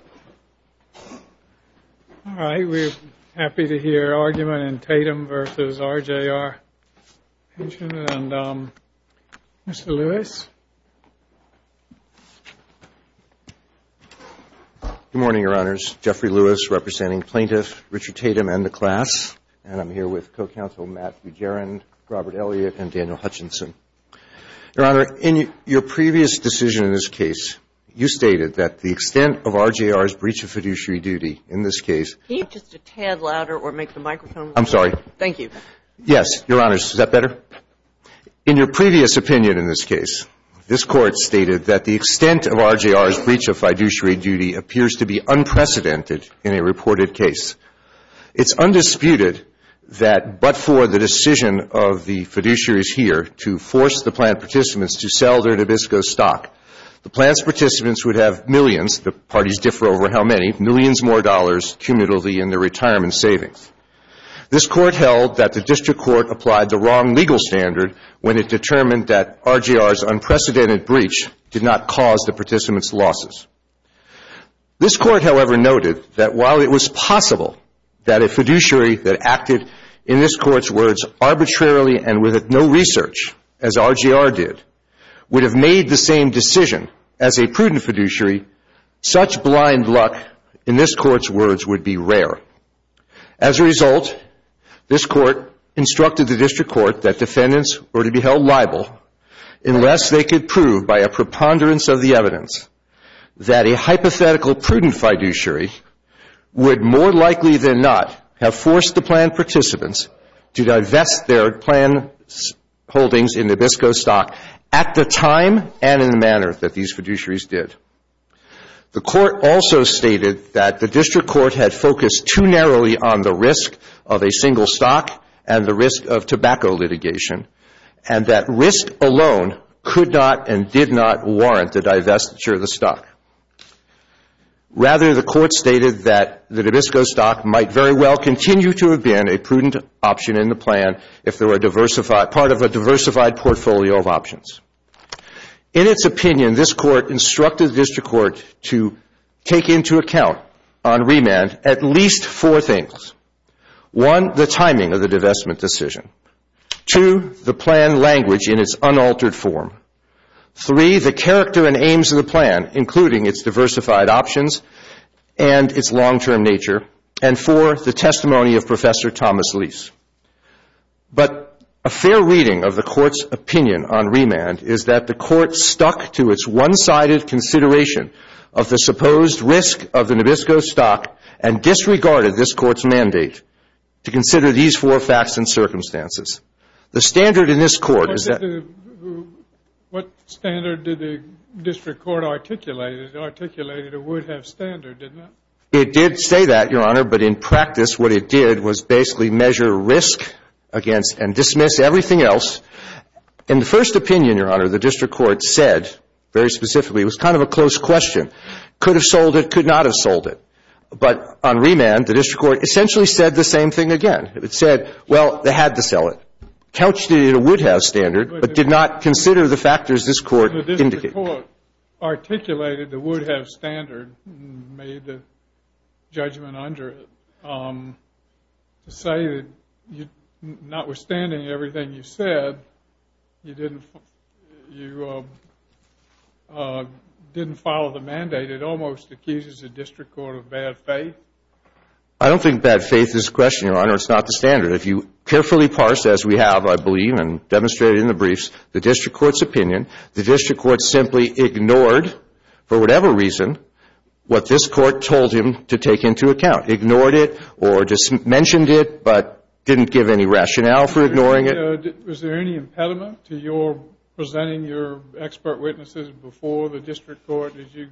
All right, we're happy to hear argument in Tatum v. RJR Pension. And Mr. Lewis? Good morning, Your Honors. Jeffrey Lewis, representing plaintiffs Richard Tatum and the class. And I'm here with co-counsel Matt Bujaran, Robert Elliott, and Daniel Hutchinson. Your Honor, in your previous decision in this case, you stated that the extent of RJR's breach of fiduciary duty in this case Can you just be a tad louder or make the microphone louder? I'm sorry. Thank you. Yes, Your Honors. Is that better? In your previous opinion in this case, this Court stated that the extent of RJR's breach of fiduciary duty appears to be unprecedented in a reported case. It's undisputed that but for the decision of the fiduciaries here to force the plaintiff's participants to sell their Nabisco stock, The plaintiff's participants would have millions, the parties differ over how many, millions more dollars cumulatively in their retirement savings. This Court held that the District Court applied the wrong legal standard when it determined that RJR's unprecedented breach did not cause the participants' losses. This Court, however, noted that while it was possible that a fiduciary that acted, in this Court's words, Arbitrarily and with no research, as RJR did, would have made the same decision as a prudent fiduciary, Such blind luck, in this Court's words, would be rare. As a result, this Court instructed the District Court that defendants were to be held liable unless they could prove, By a preponderance of the evidence, that a hypothetical prudent fiduciary would more likely than not have forced the plaintiff's participants To divest their plaintiff's holdings in Nabisco stock at the time and in the manner that these fiduciaries did. The Court also stated that the District Court had focused too narrowly on the risk of a single stock and the risk of tobacco litigation, And that risk alone could not and did not warrant the divestiture of the stock. Rather, the Court stated that the Nabisco stock might very well continue to have been a prudent option in the plan If there were part of a diversified portfolio of options. In its opinion, this Court instructed the District Court to take into account on remand at least four things. One, the timing of the divestment decision. Two, the plan language in its unaltered form. Three, the character and aims of the plan, including its diversified options and its long-term nature. And four, the testimony of Professor Thomas Lease. But a fair reading of the Court's opinion on remand is that the Court stuck to its one-sided consideration Of the supposed risk of the Nabisco stock and disregarded this Court's mandate to consider these four facts and circumstances. The standard in this Court is that What standard did the District Court articulate? It articulated it would have standard, didn't it? It did say that, Your Honor, but in practice what it did was basically measure risk against and dismiss everything else. In the first opinion, Your Honor, the District Court said, very specifically, it was kind of a close question. Could have sold it, could not have sold it. But on remand, the District Court essentially said the same thing again. It said, well, they had to sell it. Couch did it, it would have standard, but did not consider the factors this Court indicated. The District Court articulated it would have standard and made the judgment under it. To say that notwithstanding everything you said, you didn't follow the mandate, it almost accuses the District Court of bad faith? I don't think bad faith is a question, Your Honor. It's not the standard. If you carefully parse, as we have, I believe, and demonstrated in the briefs, the District Court's opinion, the District Court simply ignored, for whatever reason, what this Court told him to take into account. Ignored it or just mentioned it, but didn't give any rationale for ignoring it. Was there any impediment to your presenting your expert witnesses before the District Court? Did you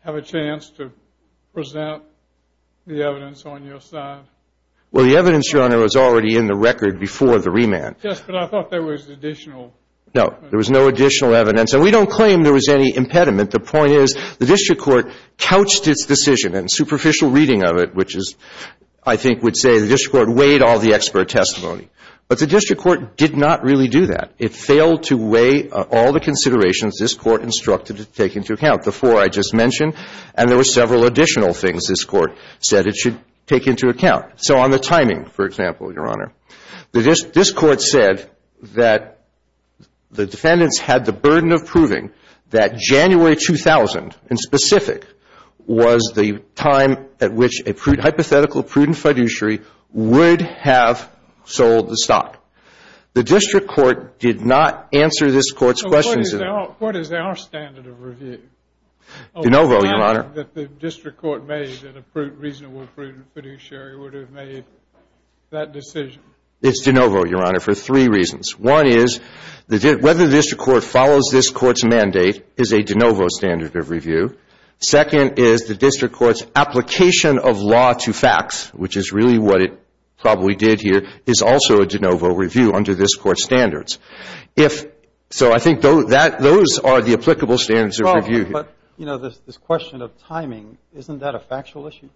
have a chance to present the evidence on your side? Well, the evidence, Your Honor, was already in the record before the remand. Yes, but I thought there was additional. No, there was no additional evidence. And we don't claim there was any impediment. The point is the District Court couched its decision, and superficial reading of it, which is, I think, would say the District Court weighed all the expert testimony. But the District Court did not really do that. It failed to weigh all the considerations this Court instructed to take into account, the four I just mentioned. And there were several additional things this Court said it should take into account. So on the timing, for example, Your Honor, this Court said that the defendants had the burden of proving that January 2000, in specific, was the time at which a hypothetical prudent fiduciary would have sold the stock. The District Court did not answer this Court's questions. What is our standard of review? De novo, Your Honor. That the District Court made that a reasonable prudent fiduciary would have made that decision. It's de novo, Your Honor, for three reasons. One is whether the District Court follows this Court's mandate is a de novo standard of review. Second is the District Court's application of law to facts, which is really what it probably did here, is also a de novo review under this Court's standards. So I think those are the applicable standards of review. But, you know, this question of timing, isn't that a factual issue?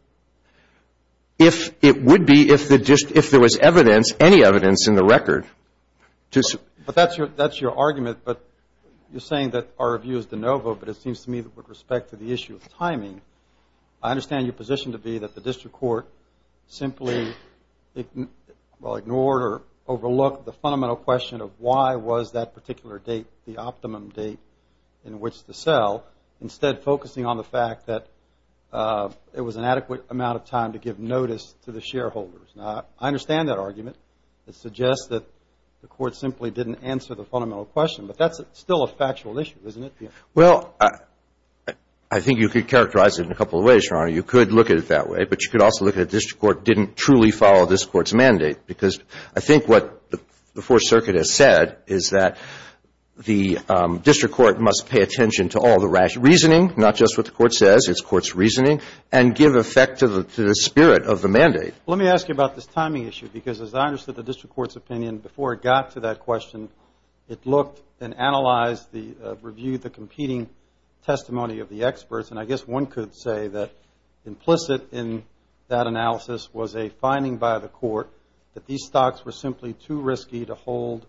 It would be if there was evidence, any evidence in the record. But that's your argument, but you're saying that our view is de novo, but it seems to me that with respect to the issue of timing, I understand your position to be that the District Court simply ignored the fundamental question of why was that particular date the optimum date in which to sell, instead focusing on the fact that it was an adequate amount of time to give notice to the shareholders. Now, I understand that argument. It suggests that the Court simply didn't answer the fundamental question. But that's still a factual issue, isn't it? Well, I think you could characterize it in a couple of ways, Your Honor. You could look at it that way, but you could also look at the District Court didn't truly follow this Court's mandate. Because I think what the Fourth Circuit has said is that the District Court must pay attention to all the rational reasoning, not just what the Court says, it's Court's reasoning, and give effect to the spirit of the mandate. Let me ask you about this timing issue, because as I understood the District Court's opinion, before it got to that question, it looked and analyzed the review, the competing testimony of the experts. And I guess one could say that implicit in that analysis was a finding by the Court that these stocks were simply too risky to hold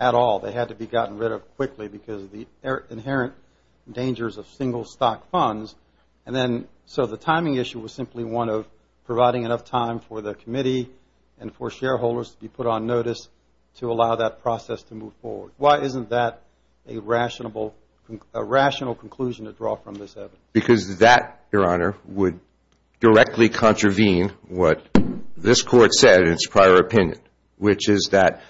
at all. They had to be gotten rid of quickly because of the inherent dangers of single-stock funds. And then so the timing issue was simply one of providing enough time for the committee and for shareholders to be put on notice to allow that process to move forward. Why isn't that a rational conclusion to draw from this evidence? Because that, Your Honor, would directly contravene what this Court said in its prior opinion, which is that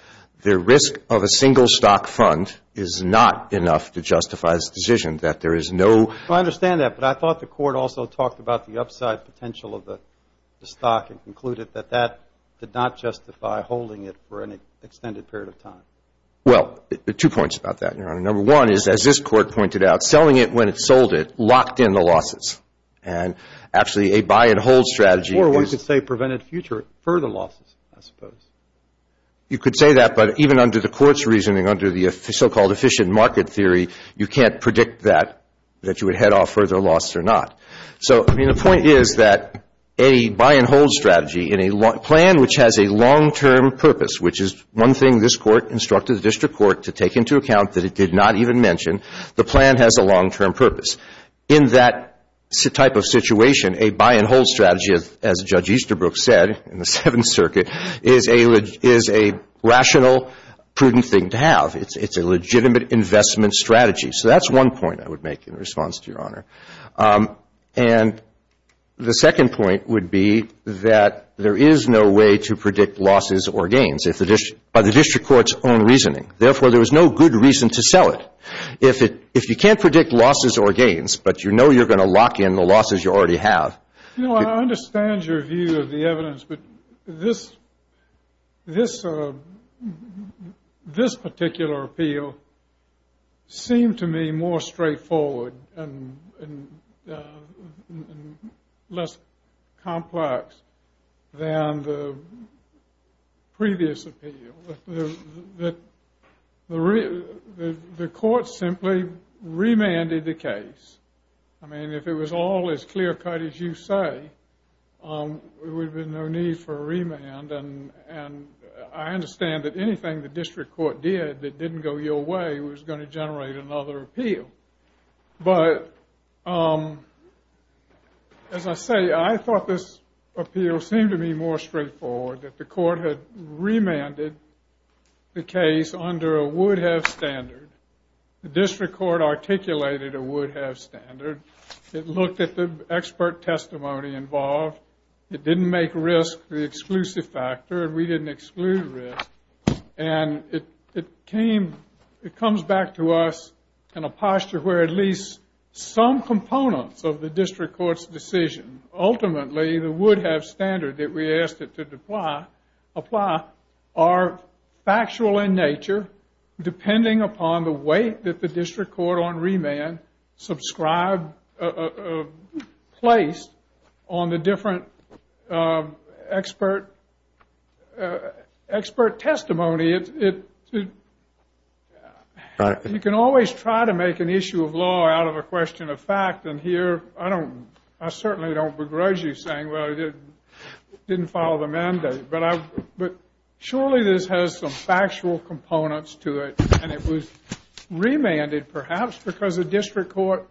the risk of a single-stock fund is not enough to justify this decision, that there is no... I understand that, but I thought the Court also talked about the upside potential of the stock and concluded that that did not justify holding it for an extended period of time. Well, two points about that, Your Honor. Number one is, as this Court pointed out, selling it when it sold it locked in the losses. And actually a buy-and-hold strategy... Before, one could say prevented further losses, I suppose. You could say that, but even under the Court's reasoning, under the so-called efficient market theory, you can't predict that, that you would head off further loss or not. So, I mean, the point is that a buy-and-hold strategy in a plan which has a long-term purpose, which is one thing this Court instructed the District Court to take into account that it did not even mention, the plan has a long-term purpose. In that type of situation, a buy-and-hold strategy, as Judge Easterbrook said in the Seventh Circuit, is a rational, prudent thing to have. It's a legitimate investment strategy. So that's one point I would make in response to Your Honor. And the second point would be that there is no way to predict losses or gains by the District Court's own reasoning. Therefore, there is no good reason to sell it. If you can't predict losses or gains, but you know you're going to lock in the losses you already have... You know, I understand your view of the evidence, but this particular appeal seemed to me more straightforward and less complex than the previous appeal. The Court simply remanded the case. I mean, if it was all as clear-cut as you say, there would have been no need for a remand. And I understand that anything the District Court did that didn't go your way was going to generate another appeal. But, as I say, I thought this appeal seemed to me more straightforward, that the Court had remanded the case under a would-have standard. The District Court articulated a would-have standard. It looked at the expert testimony involved. It didn't make risk the exclusive factor, and we didn't exclude risk. And it comes back to us in a posture where at least some components of the District Court's decision, ultimately the would-have standard that we asked it to apply, are factual in nature, depending upon the weight that the District Court on remand placed on the different expert testimony. You can always try to make an issue of law out of a question of fact, and here I certainly don't begrudge you saying, well, it didn't follow the mandate. But surely this has some factual components to it, and it was remanded perhaps because the District Court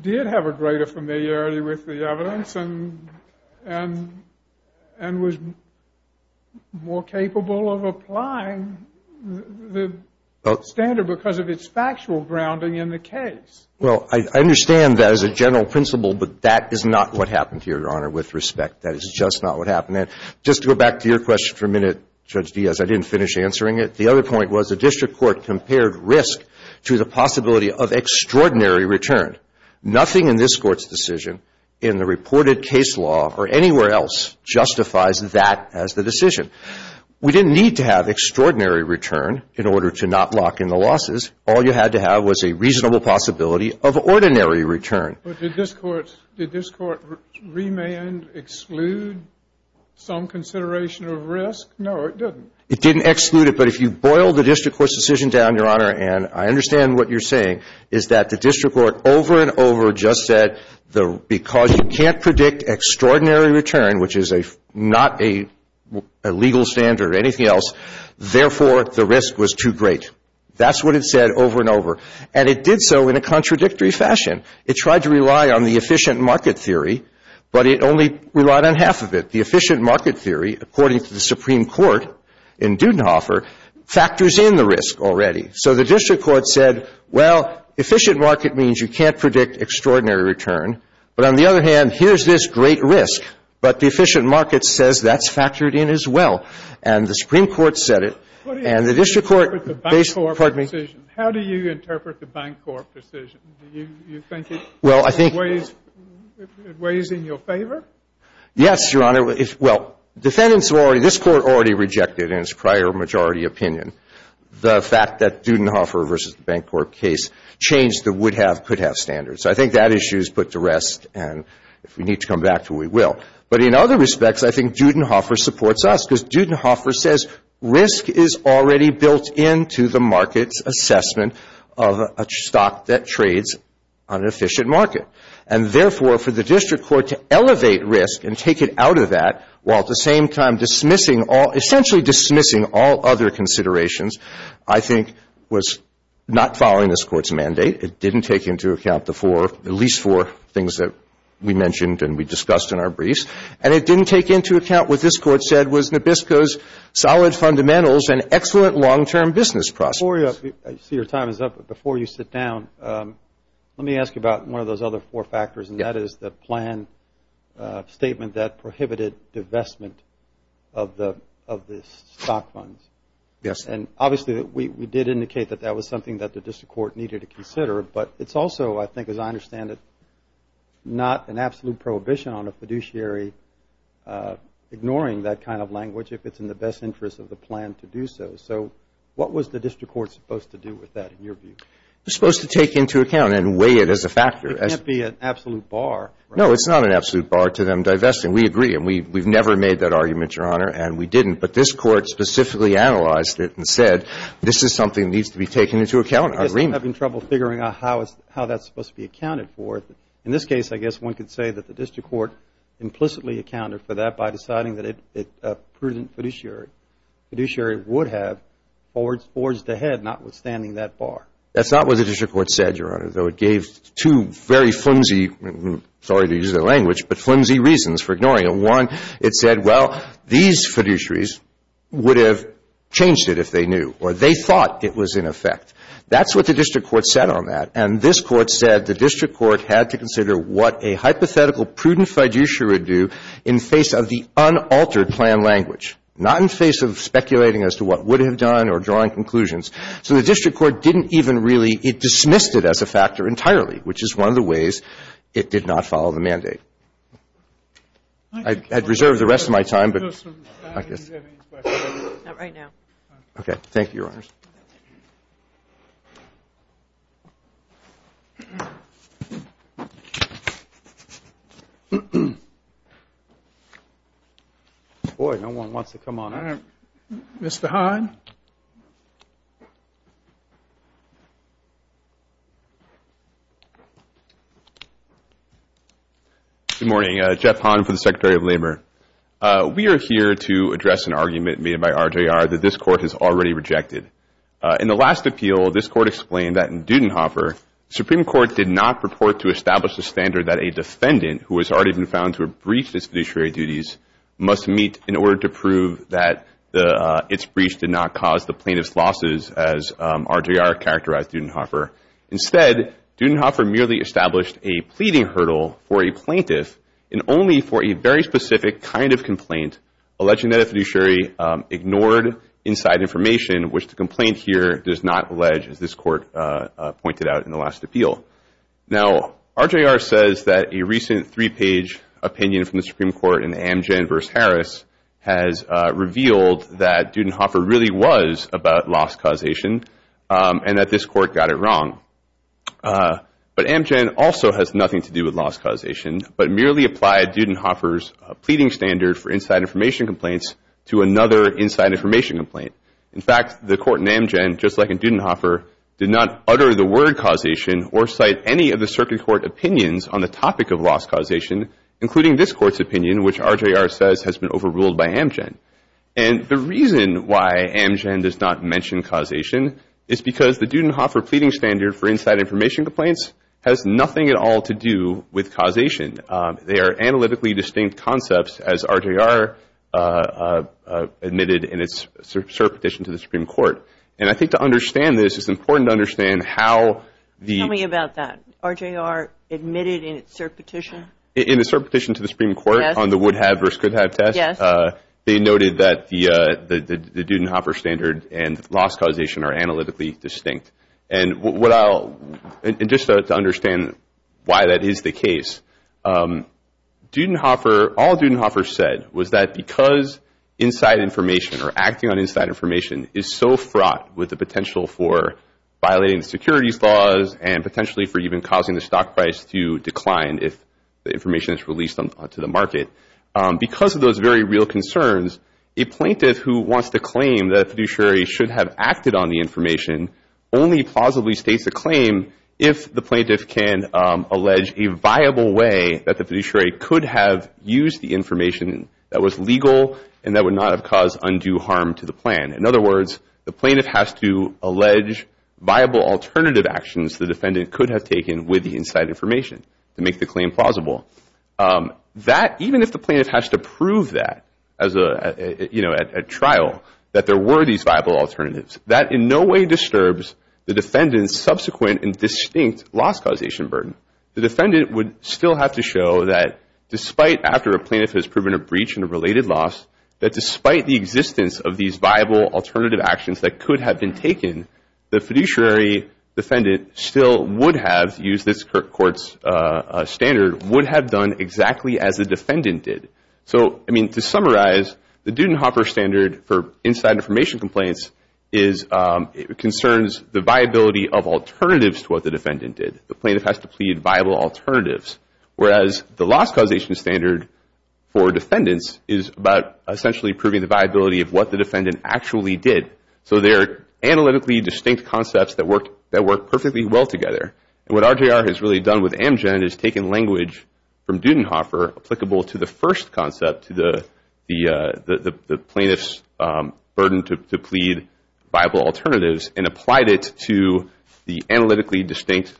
did have a greater familiarity with the evidence and was more capable of applying the standard because of its factual grounding in the case. Well, I understand that as a general principle, but that is not what happened here, Your Honor, with respect. That is just not what happened. And just to go back to your question for a minute, Judge Diaz, I didn't finish answering it. The other point was the District Court compared risk to the possibility of extraordinary return. Nothing in this Court's decision in the reported case law or anywhere else justifies that as the decision. We didn't need to have extraordinary return in order to not lock in the losses. All you had to have was a reasonable possibility of ordinary return. But did this Court remand exclude some consideration of risk? No, it didn't. It didn't exclude it. But if you boil the District Court's decision down, Your Honor, and I understand what you're saying, is that the District Court over and over just said because you can't predict extraordinary return, which is not a legal standard or anything else, therefore the risk was too great. That's what it said over and over. And it did so in a contradictory fashion. It tried to rely on the efficient market theory, but it only relied on half of it. The efficient market theory, according to the Supreme Court in Dudenhofer, factors in the risk already. So the District Court said, well, efficient market means you can't predict extraordinary return. But on the other hand, here's this great risk. But the efficient market says that's factored in as well. And the Supreme Court said it. And the District Court – How do you interpret the Bancorp decision? Do you think it weighs in your favor? Yes, Your Honor. Well, defendants have already – this Court already rejected in its prior majority opinion the fact that Dudenhofer versus the Bancorp case changed the would-have, could-have standards. So I think that issue is put to rest. And if we need to come back to it, we will. But in other respects, I think Dudenhofer supports us because Dudenhofer says risk is already built into the market's assessment of a stock that trades on an efficient market. And therefore, for the District Court to elevate risk and take it out of that, while at the same time dismissing all – essentially dismissing all other considerations, I think was not following this Court's mandate. It didn't take into account the four – at least four things that we mentioned and we discussed in our briefs. And it didn't take into account what this Court said was Nabisco's solid fundamentals and excellent long-term business process. Before you – I see your time is up. But before you sit down, let me ask you about one of those other four factors, and that is the plan statement that prohibited divestment of the stock funds. Yes, sir. And obviously, we did indicate that that was something that the District Court needed to consider. But it's also, I think, as I understand it, not an absolute prohibition on a fiduciary ignoring that kind of language if it's in the best interest of the plan to do so. So what was the District Court supposed to do with that, in your view? It was supposed to take into account and weigh it as a factor. It can't be an absolute bar, right? No, it's not an absolute bar to them divesting. We agree, and we've never made that argument, Your Honor, and we didn't. But this Court specifically analyzed it and said this is something that needs to be taken into account. I'm having trouble figuring out how that's supposed to be accounted for. In this case, I guess one could say that the District Court implicitly accounted for that by deciding that a prudent fiduciary would have forged ahead notwithstanding that bar. That's not what the District Court said, Your Honor, though it gave two very flimsy, sorry to use that language, but flimsy reasons for ignoring it. One, it said, well, these fiduciaries would have changed it if they knew or they thought it was in effect. That's what the District Court said on that. And this Court said the District Court had to consider what a hypothetical prudent fiduciary would do in face of the unaltered plan language, not in face of speculating as to what it would have done or drawing conclusions. So the District Court didn't even really, it dismissed it as a factor entirely, which is one of the ways it did not follow the mandate. I had reserved the rest of my time, but I guess. Not right now. Okay. Thank you, Your Honors. Thank you. Boy, no one wants to come on in. Mr. Hahn. Good morning. Jeff Hahn for the Secretary of Labor. We are here to address an argument made by RJR that this Court has already rejected. In the last appeal, this Court explained that in Dudenhofer, the Supreme Court did not purport to establish the standard that a defendant, who has already been found to have breached its fiduciary duties, must meet in order to prove that its breach did not cause the plaintiff's losses, as RJR characterized Dudenhofer. Instead, Dudenhofer merely established a pleading hurdle for a plaintiff, and only for a very specific kind of complaint, alleging that a fiduciary ignored inside information, which the complaint here does not allege, as this Court pointed out in the last appeal. Now, RJR says that a recent three-page opinion from the Supreme Court in Amgen v. Harris has revealed that Dudenhofer really was about loss causation, and that this Court got it wrong. But Amgen also has nothing to do with loss causation, but merely applied Dudenhofer's pleading standard for inside information complaints to another inside information complaint. In fact, the Court in Amgen, just like in Dudenhofer, did not utter the word causation or cite any of the Circuit Court opinions on the topic of loss causation, including this Court's opinion, which RJR says has been overruled by Amgen. And the reason why Amgen does not mention causation is because the Dudenhofer pleading standard for inside information complaints has nothing at all to do with causation. They are analytically distinct concepts, as RJR admitted in its cert petition to the Supreme Court. And I think to understand this, it's important to understand how the— Tell me about that. RJR admitted in its cert petition? In its cert petition to the Supreme Court on the would-have versus could-have test, they noted that the Dudenhofer standard and loss causation are analytically distinct. And what I'll—and just to understand why that is the case, Dudenhofer—all Dudenhofer said was that because inside information or acting on inside information is so fraught with the potential for violating the securities laws and potentially for even causing the stock price to decline if the information is released onto the market, because of those very real concerns, a plaintiff who wants to claim that a fiduciary should have acted on the information only plausibly states a claim if the plaintiff can allege a viable way that the fiduciary could have used the information that was legal and that would not have caused undue harm to the plan. In other words, the plaintiff has to allege viable alternative actions the defendant could have taken with the inside information to make the claim plausible. That—even if the plaintiff has to prove that at trial, that there were these viable alternatives, that in no way disturbs the defendant's subsequent and distinct loss causation burden. The defendant would still have to show that despite— after a plaintiff has proven a breach in a related loss, that despite the existence of these viable alternative actions that could have been taken, the fiduciary defendant still would have used this court's standard, would have done exactly as the defendant did. So, I mean, to summarize, the Dudenhoffer standard for inside information complaints is—concerns the viability of alternatives to what the defendant did. The plaintiff has to plead viable alternatives, whereas the loss causation standard for defendants is about essentially proving the viability of what the defendant actually did. So they're analytically distinct concepts that work perfectly well together. And what RJR has really done with Amgen is taken language from Dudenhoffer applicable to the first concept, to the plaintiff's burden to plead viable alternatives, and applied it to the analytically distinct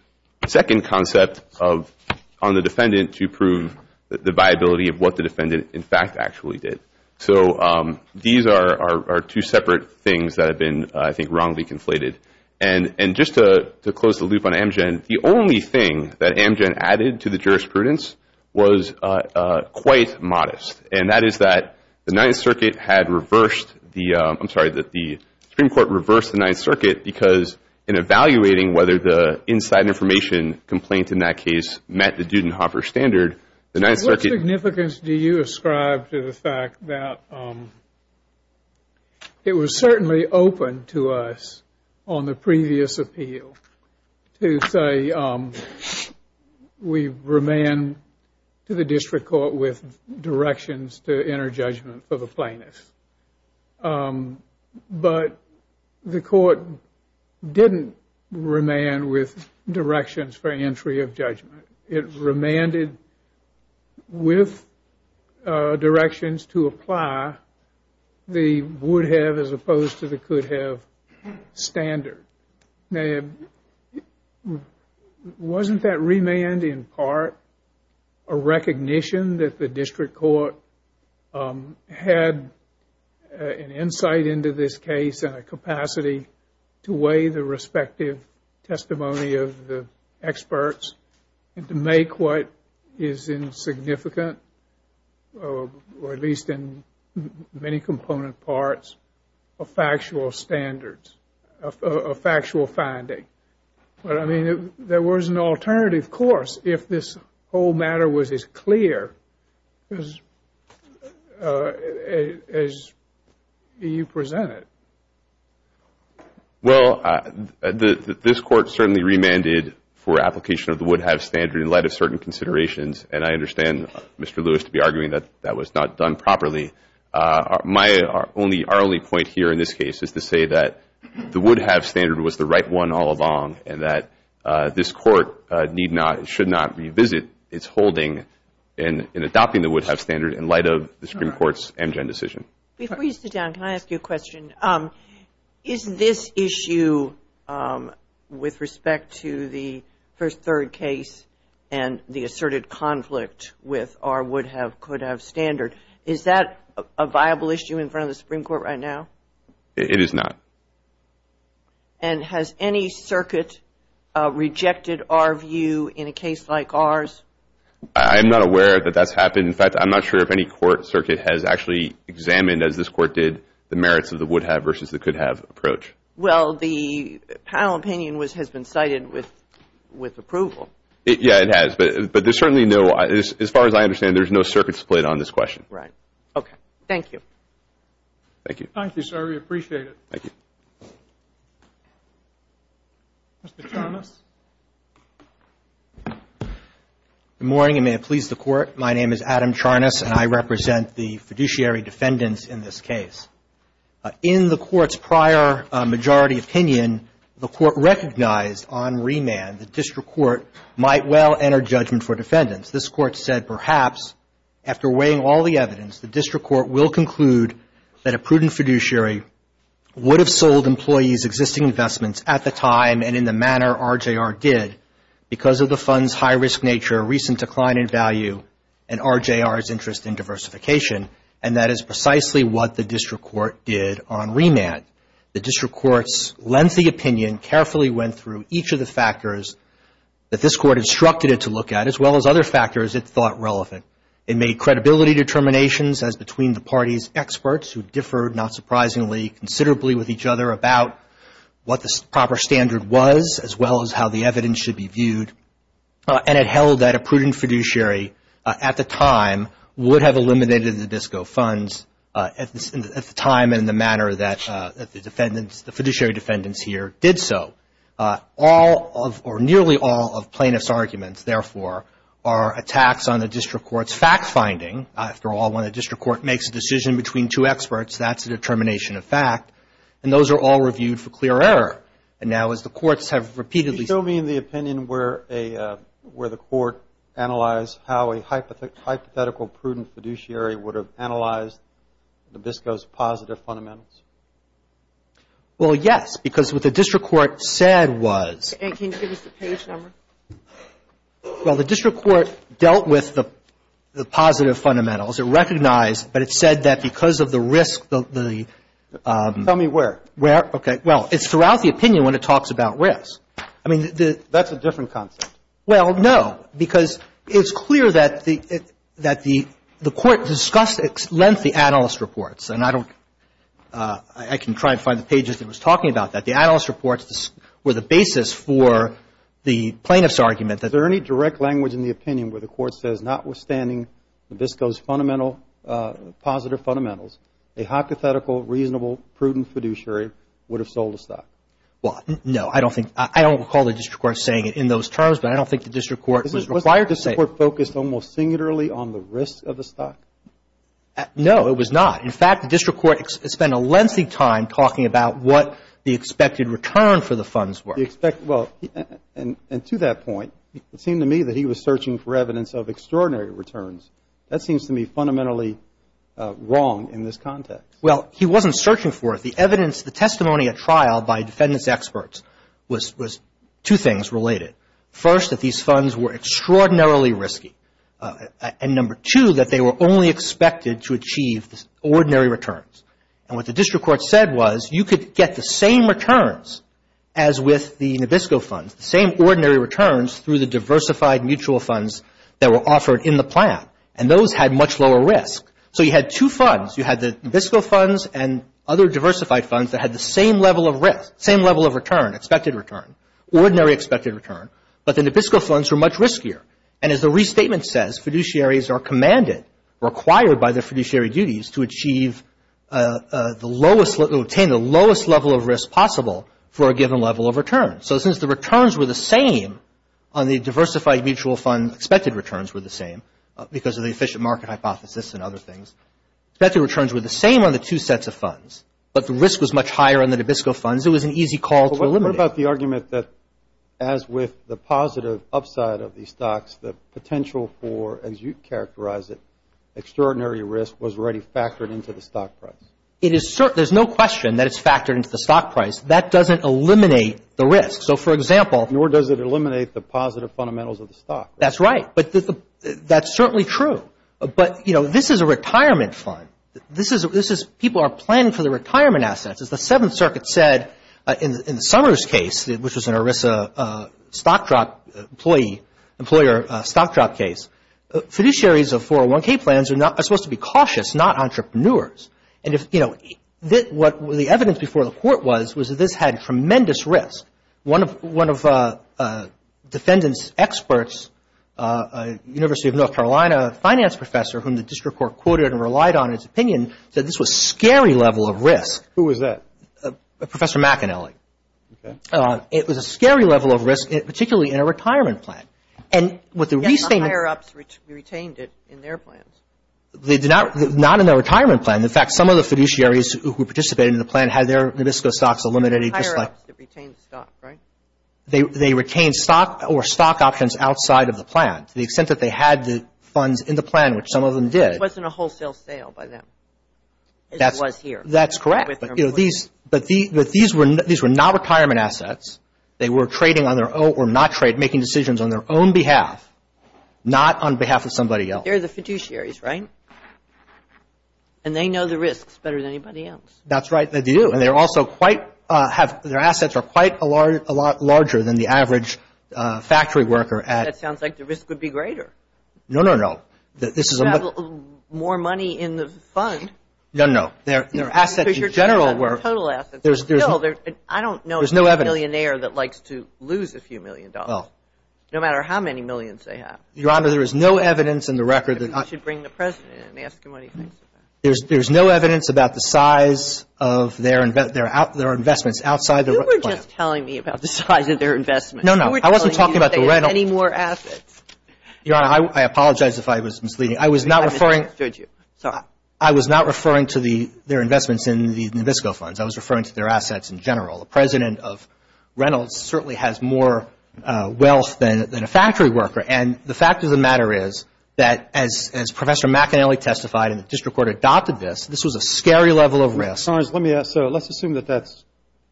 second concept of— on the defendant to prove the viability of what the defendant, in fact, actually did. So these are two separate things that have been, I think, wrongly conflated. And just to close the loop on Amgen, the only thing that Amgen added to the jurisprudence was quite modest, and that is that the Ninth Circuit had reversed the—I'm sorry, that the Supreme Court reversed the Ninth Circuit because in evaluating whether the inside information complaint in that case met the Dudenhoffer standard, the Ninth Circuit— on the previous appeal to say we remand to the district court with directions to enter judgment for the plaintiff. But the court didn't remand with directions for entry of judgment. It remanded with directions to apply the would-have as opposed to the could-have standard. Wasn't that remand in part a recognition that the district court had an insight into this case and a capacity to weigh the respective testimony of the experts and to make what is insignificant, or at least in many component parts, a factual standard, a factual finding? But, I mean, there was an alternative course if this whole matter was as clear as you presented. Well, this Court certainly remanded for application of the would-have standard in light of certain considerations, and I understand Mr. Lewis to be arguing that that was not done properly. Our only point here in this case is to say that the would-have standard was the right one all along and that this Court need not, should not revisit its holding in adopting the would-have standard in light of the Supreme Court's Amgen decision. Before you sit down, can I ask you a question? Is this issue with respect to the first third case and the asserted conflict with our would-have, could-have standard, is that a viable issue in front of the Supreme Court right now? It is not. And has any circuit rejected our view in a case like ours? I'm not aware that that's happened. In fact, I'm not sure if any court circuit has actually examined, as this Court did, the merits of the would-have versus the could-have approach. Well, the panel opinion has been cited with approval. Yeah, it has. But there's certainly no, as far as I understand, there's no circuit split on this question. Right. Okay. Thank you. Thank you. Thank you, sir. We appreciate it. Thank you. Mr. Thomas. Good morning, and may it please the Court. My name is Adam Charnas, and I represent the fiduciary defendants in this case. In the Court's prior majority opinion, the Court recognized on remand that district court might well enter judgment for defendants. This Court said, perhaps, after weighing all the evidence, the district court will conclude that a prudent fiduciary would have sold employees' existing investments at the time and in the manner RJR did because of the fund's high-risk nature, recent decline in value, and RJR's interest in diversification, and that is precisely what the district court did on remand. The district court's lengthy opinion carefully went through each of the factors that this Court instructed it to look at, as well as other factors it thought relevant. It made credibility determinations as between the parties' experts, who differed, not surprisingly, considerably, with each other about what the proper standard was, as well as how the evidence should be viewed, and it held that a prudent fiduciary, at the time, would have eliminated the DISCO funds at the time and in the manner that the defendants, the fiduciary defendants here, did so. All of, or nearly all, of plaintiff's arguments, therefore, are attacks on the district court's fact-finding. After all, when a district court makes a decision between two experts, that's a determination of fact, and those are all reviewed for clear error. And now, as the courts have repeatedly said. Can you show me the opinion where a, where the court analyzed how a hypothetical prudent fiduciary would have analyzed the DISCO's positive fundamentals? Well, yes, because what the district court said was. Can you give us the page number? Well, the district court dealt with the positive fundamentals. It recognized, but it said that because of the risk, the. Tell me where. Where? Okay. Well, it's throughout the opinion when it talks about risk. I mean, the. That's a different concept. Well, no, because it's clear that the, that the court discussed at length the analyst reports. And I don't, I can try and find the pages that was talking about that. The analyst reports were the basis for the plaintiff's argument that. Is there any direct language in the opinion where the court says, notwithstanding the DISCO's fundamental, positive fundamentals, a hypothetical, reasonable, prudent fiduciary would have sold a stock? Well, no, I don't think. I don't recall the district court saying it in those terms, but I don't think the district court was required to say. Wasn't the district court focused almost singularly on the risk of the stock? No, it was not. In fact, the district court spent a lengthy time talking about what the expected return for the funds were. Well, and to that point, it seemed to me that he was searching for evidence of extraordinary returns. That seems to me fundamentally wrong in this context. Well, he wasn't searching for it. The evidence, the testimony at trial by defendant's experts was, was two things related. First, that these funds were extraordinarily risky. And number two, that they were only expected to achieve ordinary returns. And what the district court said was, you could get the same returns as with the NABISCO funds, the same ordinary returns through the diversified mutual funds that were required, and those had much lower risk. So you had two funds. You had the NABISCO funds and other diversified funds that had the same level of risk, same level of return, expected return, ordinary expected return. But the NABISCO funds were much riskier. And as the restatement says, fiduciaries are commanded, required by their fiduciary duties, to achieve the lowest, to obtain the lowest level of risk possible for a given level of return. So since the returns were the same on the diversified mutual fund, the expected returns were the same because of the efficient market hypothesis and other things. Expected returns were the same on the two sets of funds, but the risk was much higher on the NABISCO funds. It was an easy call to eliminate. But what about the argument that, as with the positive upside of these stocks, the potential for, as you characterized it, extraordinary risk was already factored into the stock price? It is certain. There's no question that it's factored into the stock price. That doesn't eliminate the risk. So, for example. Nor does it eliminate the positive fundamentals of the stock. That's right. But that's certainly true. But, you know, this is a retirement fund. This is, people are planning for their retirement assets. As the Seventh Circuit said in the Summers case, which was an ERISA stock drop employee, employer stock drop case, fiduciaries of 401K plans are supposed to be cautious, not entrepreneurs. And if, you know, what the evidence before the court was, was that this had tremendous risk. One of defendants' experts, University of North Carolina finance professor, whom the district court quoted and relied on in his opinion, said this was a scary level of risk. Who was that? Professor McAnally. Okay. It was a scary level of risk, particularly in a retirement plan. And with the restating. Yes, the higher ups retained it in their plans. They did not, not in their retirement plan. In fact, some of the fiduciaries who participated in the plan had their Nabisco stocks eliminated just like. They retained stock, right? They retained stock or stock options outside of the plan. To the extent that they had the funds in the plan, which some of them did. It wasn't a wholesale sale by them. It was here. That's correct. But these were not retirement assets. They were trading on their own or not trading, making decisions on their own behalf, not on behalf of somebody else. They're the fiduciaries, right? And they know the risks better than anybody else. That's right, they do. And they're also quite have, their assets are quite a lot larger than the average factory worker at. That sounds like the risk would be greater. No, no, no. This is. More money in the fund. No, no. Their assets in general were. Total assets. There's no. I don't know. There's no evidence. A millionaire that likes to lose a few million dollars. No matter how many millions they have. Your Honor, there is no evidence in the record. You should bring the President in and ask him what he thinks of that. There's no evidence about the size of their investments outside the. You were just telling me about the size of their investments. No, no. I wasn't talking about the. Any more assets. Your Honor, I apologize if I was misleading. I was not referring. I misunderstood you. Sorry. I was not referring to their investments in the Nabisco funds. I was referring to their assets in general. The President of Reynolds certainly has more wealth than a factory worker. And the fact of the matter is that as Professor McAnally testified and the district court adopted this, this was a scary level of risk. Let me ask. So let's assume that that's.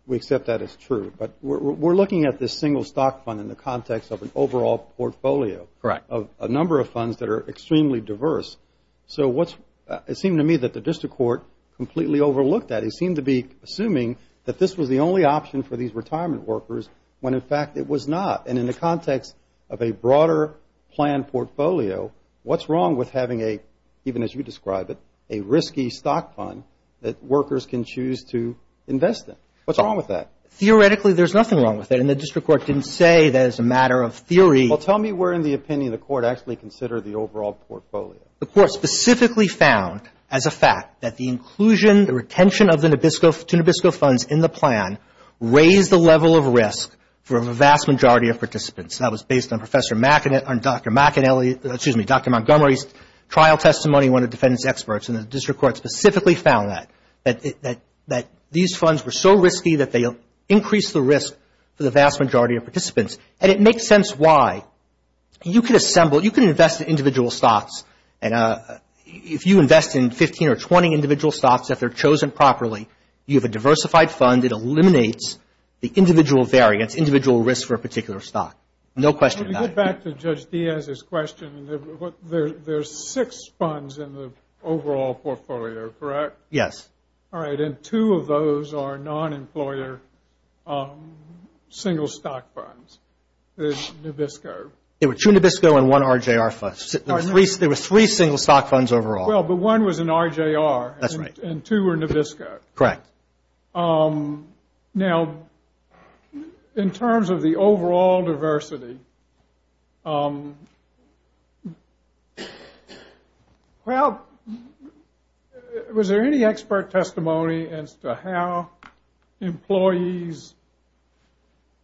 We accept that it's true. But we're looking at this single stock fund in the context of an overall portfolio. Correct. Of a number of funds that are extremely diverse. So what's. It seemed to me that the district court completely overlooked that. It seemed to be assuming that this was the only option for these retirement workers when, in fact, it was not. And in the context of a broader plan portfolio, what's wrong with having a, even as you describe it, a risky stock fund that workers can choose to invest in? What's wrong with that? Theoretically, there's nothing wrong with that. And the district court didn't say that it's a matter of theory. Well, tell me where in the opinion the court actually considered the overall portfolio. The court specifically found as a fact that the inclusion, the retention of the Nabisco, to Nabisco funds in the plan raised the level of risk for a vast majority of participants. And that was based on Professor, on Dr. McAnally, excuse me, Dr. Montgomery's trial testimony, one of the defendants' experts. And the district court specifically found that. That these funds were so risky that they increased the risk for the vast majority of participants. And it makes sense why. You can assemble. You can invest in individual stocks. If you invest in 15 or 20 individual stocks, if they're chosen properly, you have a diversified fund. It eliminates the individual variance, individual risk for a particular stock. No question about it. Let me go back to Judge Diaz's question. There's six funds in the overall portfolio, correct? Yes. All right. And two of those are non-employer single stock funds, Nabisco. There were two Nabisco and one RJR funds. There were three single stock funds overall. Well, but one was an RJR. That's right. And two were Nabisco. Correct. Now, in terms of the overall diversity, well, was there any expert testimony as to how employees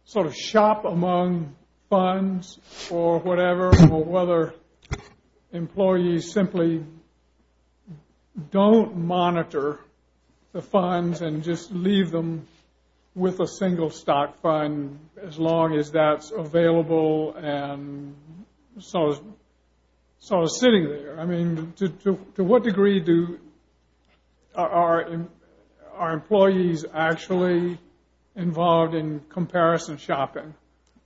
sort of shop among funds or whatever? Or whether employees simply don't monitor the funds and just leave them with a single stock fund as long as that's available and sort of sitting there? I mean, to what degree are employees actually involved in comparison shopping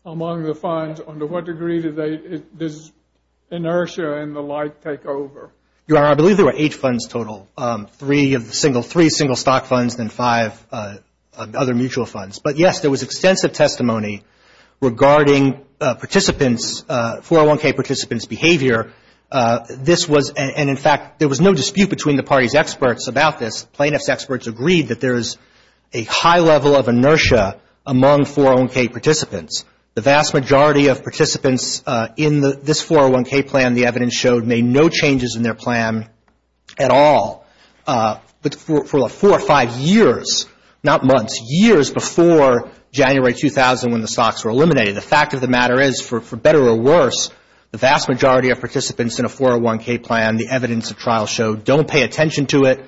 among the funds? And to what degree does inertia and the like take over? Your Honor, I believe there were eight funds total, three single stock funds and five other mutual funds. But, yes, there was extensive testimony regarding participants, 401K participants' behavior. This was, and in fact, there was no dispute between the party's experts about this. Plaintiff's experts agreed that there is a high level of inertia among 401K participants. The vast majority of participants in this 401K plan, the evidence showed, made no changes in their plan at all. But for four or five years, not months, years before January 2000 when the stocks were eliminated, the fact of the matter is, for better or worse, the vast majority of participants in a 401K plan, the evidence of trial showed, don't pay attention to it.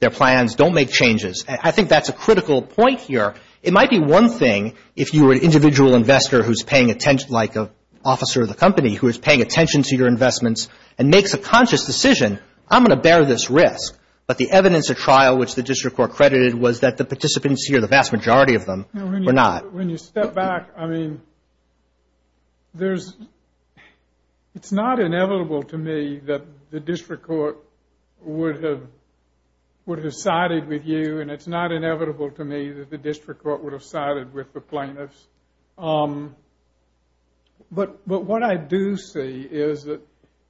Their plans don't make changes. I think that's a critical point here. It might be one thing if you were an individual investor who's paying attention, like an officer of the company who is paying attention to your investments and makes a conscious decision, I'm going to bear this risk. But the evidence of trial, which the district court credited, was that the participants here, the vast majority of them, were not. When you step back, I mean, it's not inevitable to me that the district court would have sided with you, and it's not inevitable to me that the district court would have sided with the plaintiffs. But what I do see is that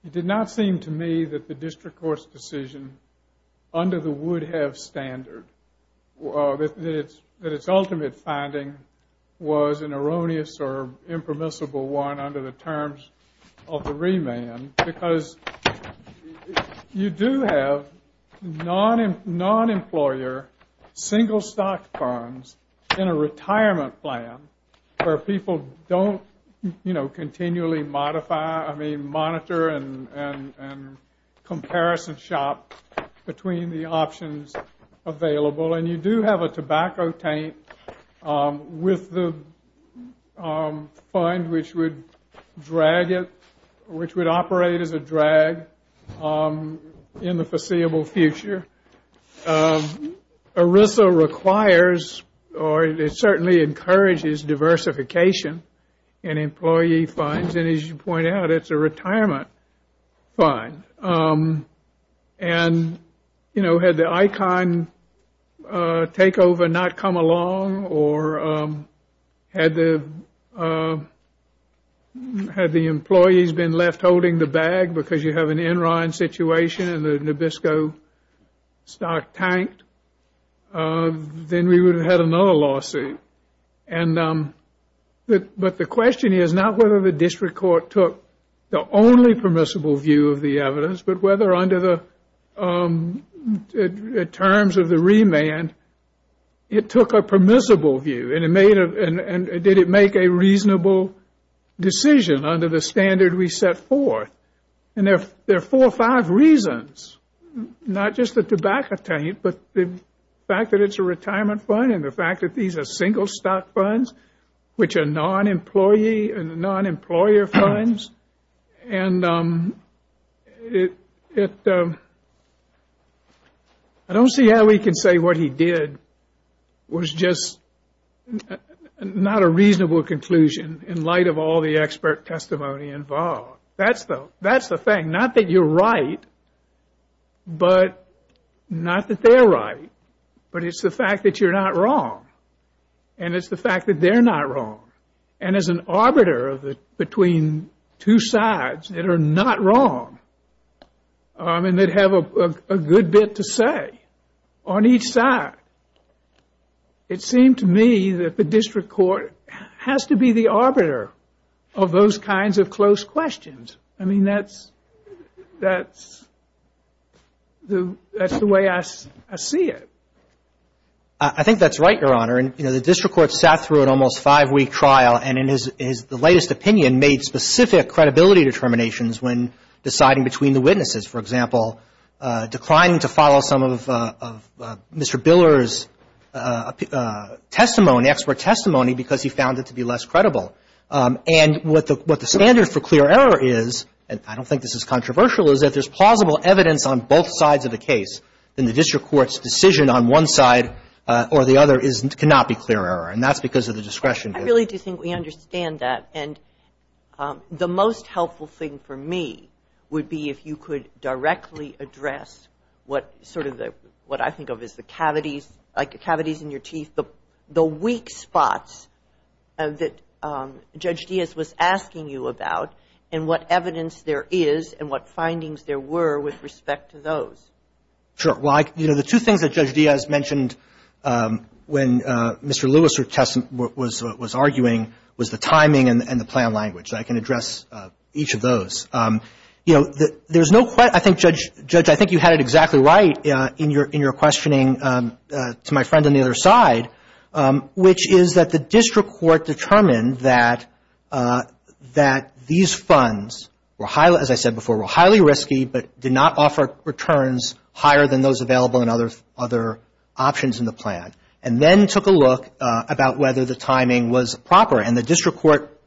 it did not seem to me that the district court's decision under the would-have standard, that its ultimate finding was an erroneous or impermissible one under the terms of the remand, because you do have non-employer, single-stock funds in a retirement plan where people don't continually monitor and comparison shop between the options available. And you do have a tobacco taint with the fund, which would operate as a drag in the foreseeable future. ERISA requires, or it certainly encourages, diversification in employee funds, and as you point out, it's a retirement fund. And, you know, had the ICON takeover not come along, or had the employees been left holding the bag because you have an Enron situation and the Nabisco stock tanked, then we would have had another lawsuit. But the question is not whether the district court took the only permissible view of the evidence, but whether under the terms of the remand it took a permissible view, and did it make a reasonable decision under the standard we set forth. And there are four or five reasons, not just the tobacco taint, but the fact that it's a retirement fund and the fact that these are single-stock funds, which are non-employee and non-employer funds. And I don't see how we can say what he did was just not a reasonable conclusion in light of all the expert testimony involved. That's the thing, not that you're right, but not that they're right, but it's the fact that you're not wrong, and it's the fact that they're not wrong. And as an arbiter between two sides that are not wrong, and that have a good bit to say on each side, it seemed to me that the district court has to be the arbiter of those kinds of close questions. I mean, that's the way I see it. I think that's right, Your Honor. And, you know, the district court sat through an almost five-week trial, and in his latest opinion made specific credibility determinations when deciding between the witnesses. For example, declining to follow some of Mr. Biller's testimony, expert testimony, because he found it to be less credible. And what the standard for clear error is, and I don't think this is controversial, is that if there's plausible evidence on both sides of the case, then the district court's decision on one side or the other cannot be clear error. And that's because of the discretion. I really do think we understand that. And the most helpful thing for me would be if you could directly address what sort of the – what I think of as the cavities, like the cavities in your teeth, the weak spots that Judge Diaz was asking you about, and what evidence there is and what findings there were with respect to those. Sure. Well, you know, the two things that Judge Diaz mentioned when Mr. Lewis was arguing was the timing and the plan language. I can address each of those. You know, there's no – I think, Judge, I think you had it exactly right in your questioning to my friend on the other side, which is that the district court determined that these funds, as I said before, were highly risky but did not offer returns higher than those available in other options in the plan, and then took a look about whether the timing was proper. And the district court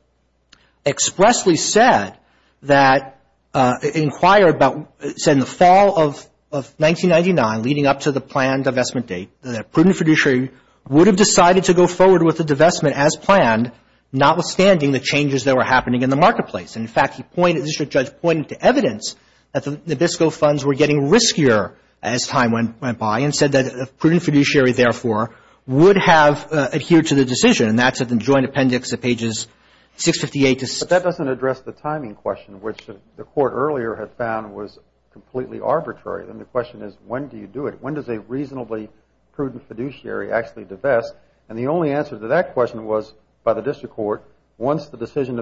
expressly said that – inquired about – said in the fall of 1999, leading up to the planned divestment date, that prudent fiduciary would have decided to go forward with the divestment as planned, notwithstanding the changes that were happening in the marketplace. And, in fact, he pointed – the district judge pointed to evidence that the Nabisco funds were getting riskier as time went by and said that a prudent fiduciary, therefore, would have adhered to the decision. And that's in the joint appendix at pages 658 to 659. But that doesn't address the timing question, which the court earlier had found was completely arbitrary. And the question is, when do you do it? When does a reasonably prudent fiduciary actually divest? And the only answer to that question was by the district court, once the decision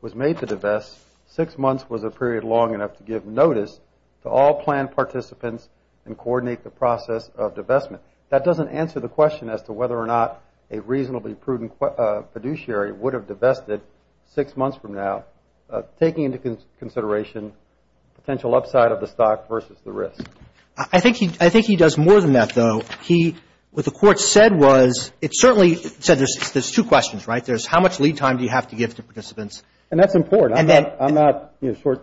was made to divest, six months was a period long enough to give notice to all planned participants and coordinate the process of divestment. That doesn't answer the question as to whether or not a reasonably prudent fiduciary would have divested six months from now, taking into consideration potential upside of the stock versus the risk. I think he does more than that, though. He – what the court said was – it certainly said there's two questions, right? There's how much lead time do you have to give to participants. And that's important. I'm not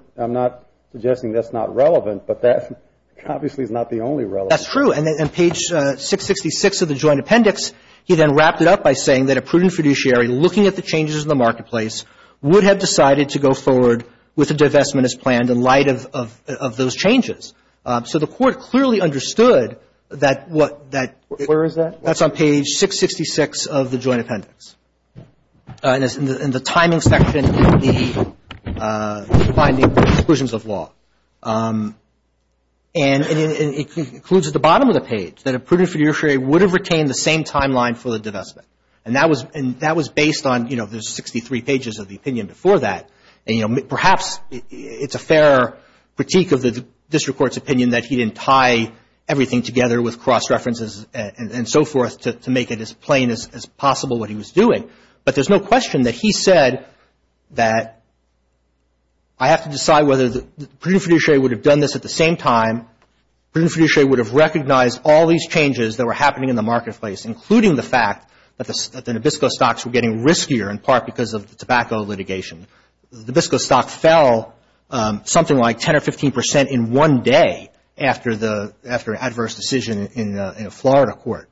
– I'm not suggesting that's not relevant, but that obviously is not the only relevant. That's true. And page 666 of the joint appendix, he then wrapped it up by saying that a prudent fiduciary, looking at the changes in the marketplace, would have decided to go forward with a divestment as planned in light of those changes. So the court clearly understood that – Where is that? That's on page 666 of the joint appendix. And it's in the timing section of the finding exclusions of law. And it concludes at the bottom of the page that a prudent fiduciary would have retained the same timeline for the divestment. And that was – and that was based on, you know, the 63 pages of the opinion before that. And, you know, perhaps it's a fair critique of the district court's opinion that he didn't tie everything together with cross-references and so forth to make it as plain as possible what he was doing. But there's no question that he said that I have to decide whether the prudent fiduciary would have done this at the same time. Prudent fiduciary would have recognized all these changes that were happening in the marketplace, including the fact that the Nabisco stocks were getting riskier in part because of the tobacco litigation. The Nabisco stock fell something like 10 or 15 percent in one day after the – after an adverse decision in a Florida court.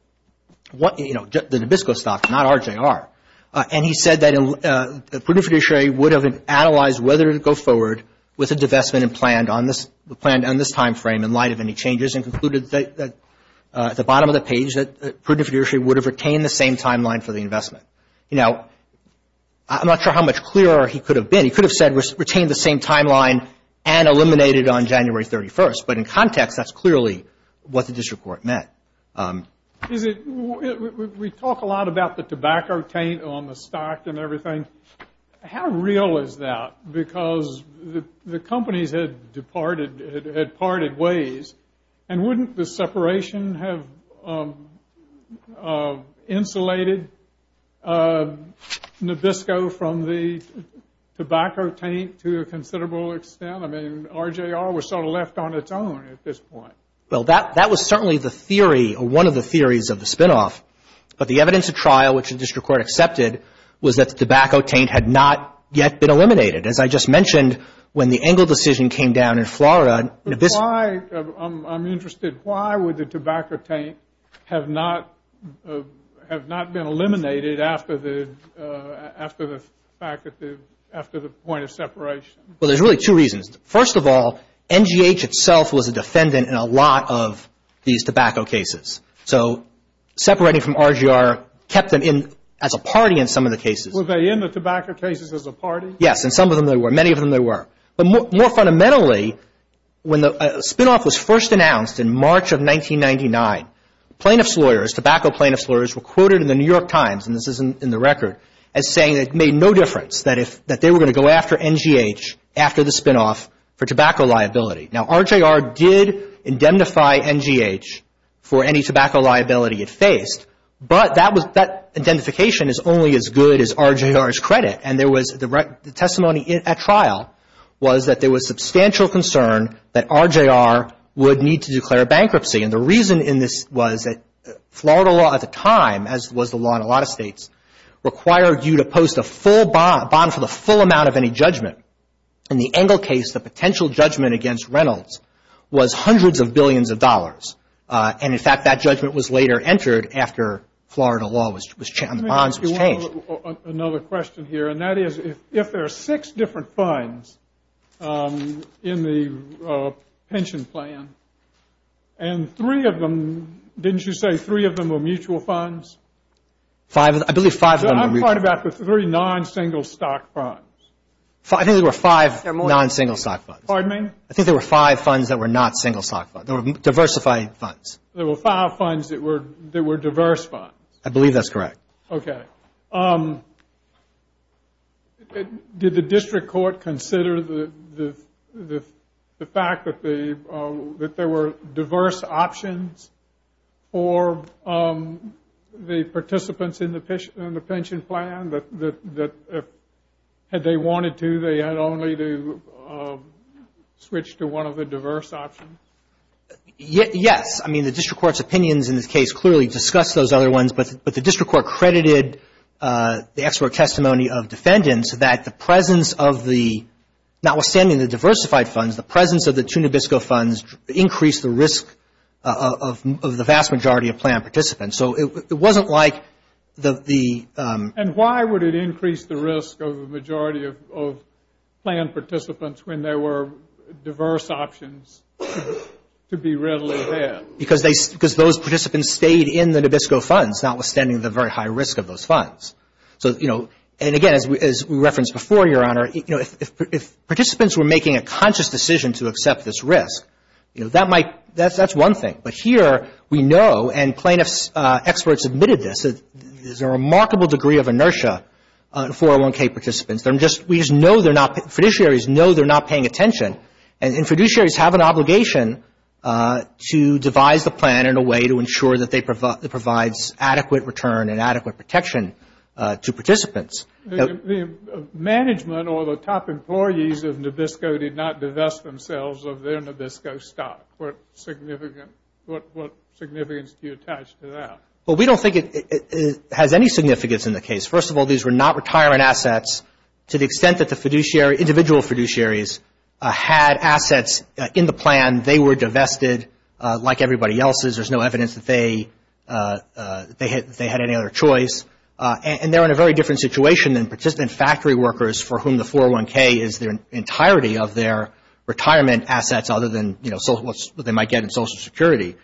You know, the Nabisco stock, not RJR. And he said that a prudent fiduciary would have analyzed whether to go forward with a divestment and planned on this timeframe in light of any changes and concluded that at the bottom of the page that prudent fiduciary would have retained the same timeline for the investment. You know, I'm not sure how much clearer he could have been. He could have said retained the same timeline and eliminated on January 31st. But in context, that's clearly what the district court meant. Is it – we talk a lot about the tobacco taint on the stock and everything. How real is that? Because the companies had departed – had parted ways. And wouldn't the separation have insulated Nabisco from the tobacco taint to a considerable extent? I mean, RJR was sort of left on its own at this point. Well, that was certainly the theory or one of the theories of the spinoff. But the evidence of trial, which the district court accepted, was that the tobacco taint had not yet been eliminated. As I just mentioned, when the Engel decision came down in Florida, Nabisco – But why – I'm interested. Why would the tobacco taint have not – have not been eliminated after the – after the fact that the – after the point of separation? Well, there's really two reasons. First of all, NGH itself was a defendant in a lot of these tobacco cases. So separating from RGR kept them in – as a party in some of the cases. Were they in the tobacco cases as a party? Yes, and some of them they were. Many of them they were. But more fundamentally, when the spinoff was first announced in March of 1999, plaintiffs' lawyers, tobacco plaintiffs' lawyers, were quoted in the New York Times, and this is in the record, as saying it made no difference that if – for tobacco liability. Now, RGR did indemnify NGH for any tobacco liability it faced, but that was – that indemnification is only as good as RGR's credit, and there was – the testimony at trial was that there was substantial concern that RGR would need to declare bankruptcy, and the reason in this was that Florida law at the time, as was the law in a lot of states, required you to post a full bond for the full amount of any judgment. In the Engel case, the potential judgment against Reynolds was hundreds of billions of dollars, and, in fact, that judgment was later entered after Florida law on the bonds was changed. Another question here, and that is if there are six different funds in the pension plan and three of them – didn't you say three of them were mutual funds? I believe five of them were mutual. I'm talking about the three non-single stock funds. I think there were five non-single stock funds. Pardon me? I think there were five funds that were not single stock funds. They were diversified funds. There were five funds that were diverse funds. I believe that's correct. Okay. Did the district court consider the fact that there were diverse options for the participants in the pension plan, that if they wanted to, they had only to switch to one of the diverse options? Yes. I mean, the district court's opinions in this case clearly discussed those other ones, but the district court credited the expert testimony of defendants that the presence of the – notwithstanding the diversified funds, the presence of the two Nabisco funds increased the risk of the vast majority of plan participants. So it wasn't like the – And why would it increase the risk of the majority of plan participants when there were diverse options to be readily had? Because those participants stayed in the Nabisco funds, notwithstanding the very high risk of those funds. So, you know, and again, as we referenced before, Your Honor, you know, if participants were making a conscious decision to accept this risk, you know, that might – that's one thing. But here we know, and plaintiff's experts admitted this, there's a remarkable degree of inertia for 401K participants. They're just – we just know they're not – fiduciaries know they're not paying attention. And fiduciaries have an obligation to devise the plan in a way to ensure that it provides adequate return and adequate protection to participants. The management or the top employees of Nabisco did not divest themselves of their Nabisco stock. What significance do you attach to that? Well, we don't think it has any significance in the case. First of all, these were not retirement assets to the extent that the fiduciary – individual fiduciaries had assets in the plan. They were divested like everybody else's. There's no evidence that they had any other choice. And they're in a very different situation than participant factory workers, for whom the 401K is their entirety of their retirement assets other than, you know, what they might get in Social Security.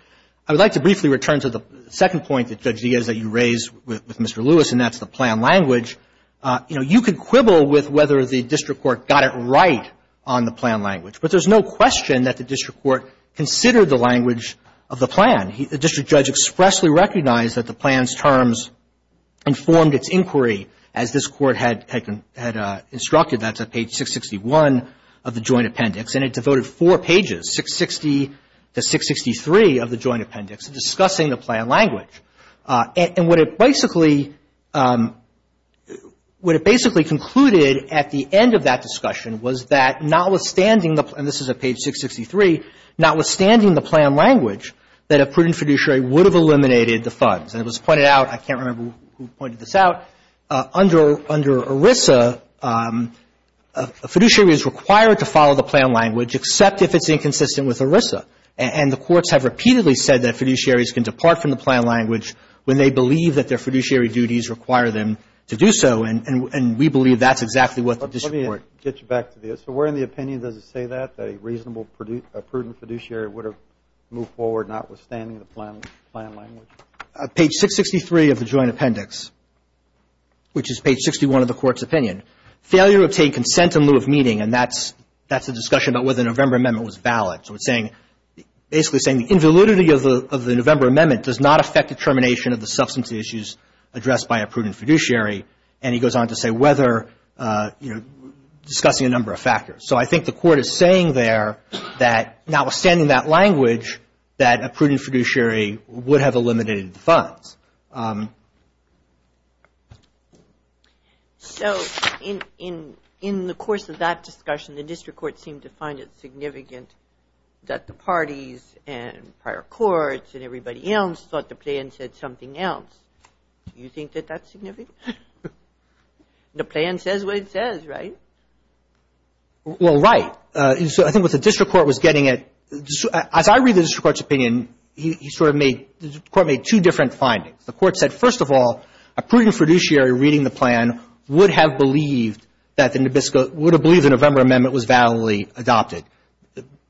I would like to briefly return to the second point that Judge Diaz, that you raised with Mr. Lewis, and that's the plan language. You know, you could quibble with whether the district court got it right on the plan language. But there's no question that the district court considered the language of the plan. The district judge expressly recognized that the plan's terms informed its inquiry, as this court had instructed. That's at page 661 of the joint appendix. And it devoted four pages, 660 to 663 of the joint appendix, discussing the plan language. And what it basically concluded at the end of that discussion was that notwithstanding the – and this is at page 663 – that notwithstanding the plan language, that a prudent fiduciary would have eliminated the funds. And it was pointed out – I can't remember who pointed this out – under ERISA, a fiduciary is required to follow the plan language except if it's inconsistent with ERISA. And the courts have repeatedly said that fiduciaries can depart from the plan language when they believe that their fiduciary duties require them to do so. And we believe that's exactly what the district court – that a prudent fiduciary would have moved forward notwithstanding the plan language. Page 663 of the joint appendix, which is page 61 of the court's opinion, failure to obtain consent in lieu of meeting – and that's a discussion about whether the November amendment was valid. So it's saying – basically saying the invalidity of the November amendment does not affect the termination of the substantive issues addressed by a prudent fiduciary. And he goes on to say whether, you know, discussing a number of factors. So I think the court is saying there that notwithstanding that language, that a prudent fiduciary would have eliminated the funds. So in the course of that discussion, the district court seemed to find it significant that the parties and prior courts and everybody else thought the plan said something else. Do you think that that's significant? The plan says what it says, right? Well, right. So I think what the district court was getting at – as I read the district court's opinion, he sort of made – the court made two different findings. The court said, first of all, a prudent fiduciary reading the plan would have believed that the – would have believed the November amendment was validly adopted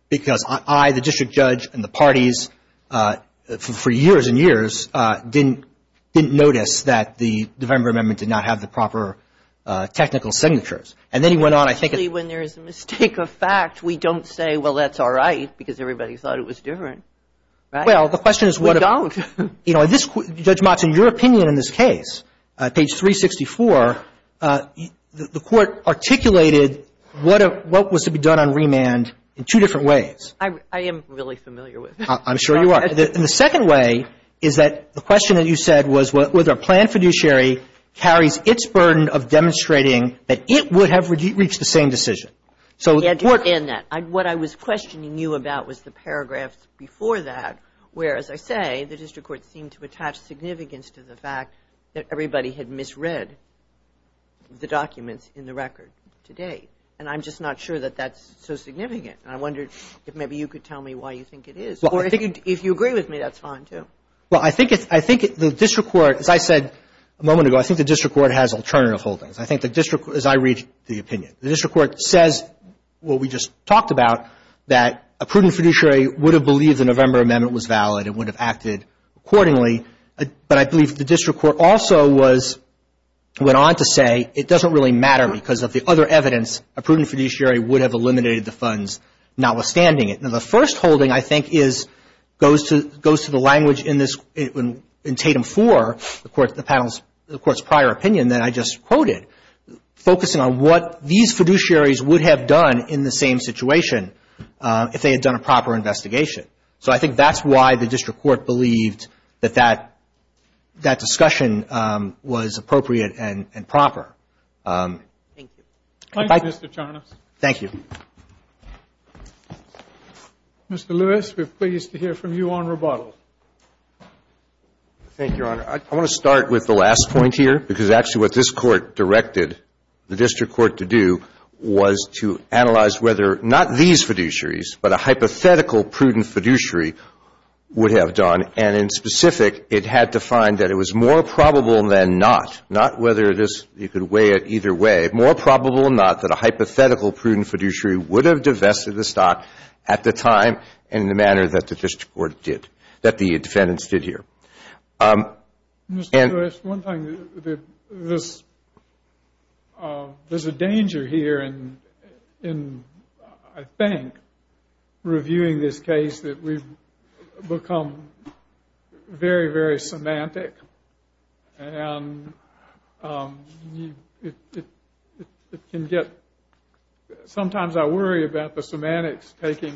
because I, the district judge, and the parties for years and years didn't – didn't notice that the November amendment did not have the proper technical signatures. And then he went on, I think – Usually when there is a mistake of fact, we don't say, well, that's all right, because everybody thought it was different, right? Well, the question is what – We don't. You know, this – Judge Motz, in your opinion in this case, page 364, the court articulated what was to be done on remand in two different ways. I am really familiar with it. I'm sure you are. And the second way is that the question that you said was whether a planned fiduciary carries its burden of demonstrating that it would have reached the same decision. So the court – And that – what I was questioning you about was the paragraphs before that, where, as I say, the district court seemed to attach significance to the fact that everybody had misread the documents in the record to date. And I'm just not sure that that's so significant. And I wondered if maybe you could tell me why you think it is. Or if you agree with me, that's fine, too. Well, I think it's – I think the district court, as I said a moment ago, I think the district court has alternative holdings. I think the district – as I read the opinion, the district court says what we just talked about, that a prudent fiduciary would have believed the November amendment was valid and would have acted accordingly. But I believe the district court also was – went on to say it doesn't really matter because of the other evidence, a prudent fiduciary would have eliminated the funds, notwithstanding it. Now, the first holding, I think, is – goes to the language in this – in Tatum 4, the panel's – the court's prior opinion that I just quoted, focusing on what these fiduciaries would have done in the same situation if they had done a proper investigation. So I think that's why the district court believed that that discussion was appropriate and proper. Thank you. Goodbye. Thank you, Mr. Charnas. Thank you. Mr. Lewis, we're pleased to hear from you on rebuttal. Thank you, Your Honor. I want to start with the last point here because actually what this court directed the district court to do was to analyze whether not these fiduciaries, but a hypothetical prudent fiduciary would have done. And in specific, it had to find that it was more probable than not – not whether this – you could weigh it either way – more probable than not that a hypothetical prudent fiduciary would have divested the stock at the time in the manner that the district court did – that the defendants did here. Mr. Lewis, one thing that this – there's a danger here in, I think, reviewing this case that we've become very, very semantic and it can get – sometimes I worry about the semantics taking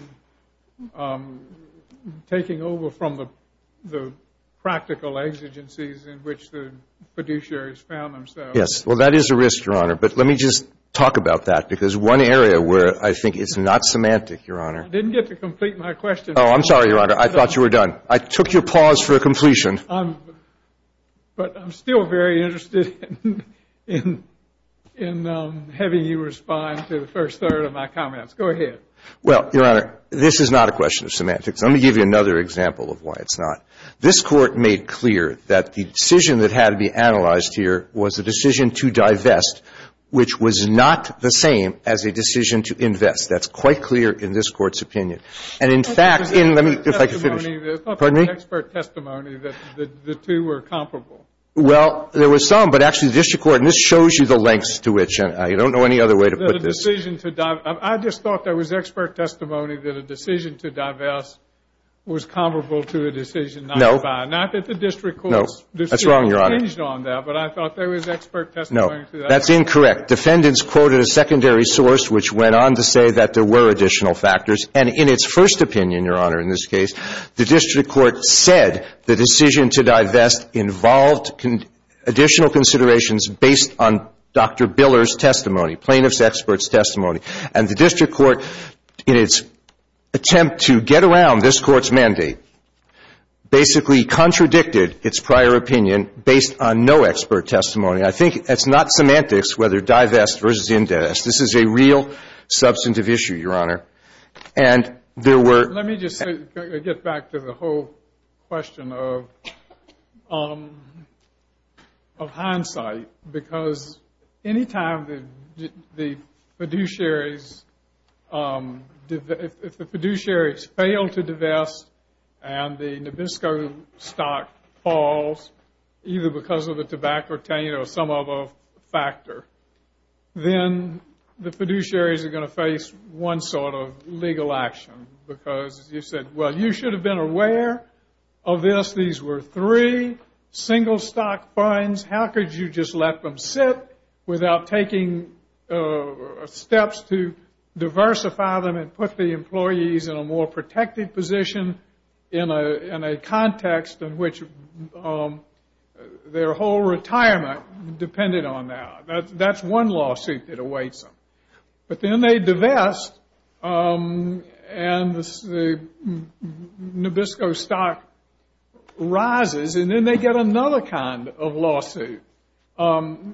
over from the practical exigencies in which the fiduciaries found themselves. Yes. Well, that is a risk, Your Honor. But let me just talk about that because one area where I think it's not semantic, Your Honor – I didn't get to complete my question. Oh, I'm sorry, Your Honor. I thought you were done. I took your pause for completion. I'm – but I'm still very interested in having you respond to the first third of my comments. Go ahead. Well, Your Honor, this is not a question of semantics. Let me give you another example of why it's not. This Court made clear that the decision that had to be analyzed here was a decision to divest, which was not the same as a decision to invest. That's quite clear in this Court's opinion. And, in fact, in – let me – if I could finish. There's not been an expert testimony that the two were comparable. Well, there was some, but actually the district court – and this shows you the lengths to which – I don't know any other way to put this. A decision to – I just thought there was expert testimony that a decision to divest was comparable to a decision not to buy. No. Not that the district court's – No. That's wrong, Your Honor. – decision changed on that, but I thought there was expert testimony to that. No. That's incorrect. Defendants quoted a secondary source, which went on to say that there were additional factors. And in its first opinion, Your Honor, in this case, the district court said the decision to divest involved additional considerations based on Dr. Biller's testimony, plaintiff's expert's testimony. And the district court, in its attempt to get around this Court's mandate, basically contradicted its prior opinion based on no expert testimony. I think that's not semantics, whether divest versus indest. This is a real substantive issue, Your Honor. And there were – Let me just say – get back to the whole question of – of hindsight. Because any time the fiduciaries – if the fiduciaries fail to divest and the Nabisco stock falls, either because of the tobacco taint or some other factor, then the fiduciaries are going to face one sort of legal action. Because you said, well, you should have been aware of this. These were three single-stock funds. How could you just let them sit without taking steps to diversify them and put the employees in a more protected position in a context in which their whole retirement depended on that? That's one lawsuit that awaits them. But then they divest and the Nabisco stock rises. And then they get another kind of lawsuit,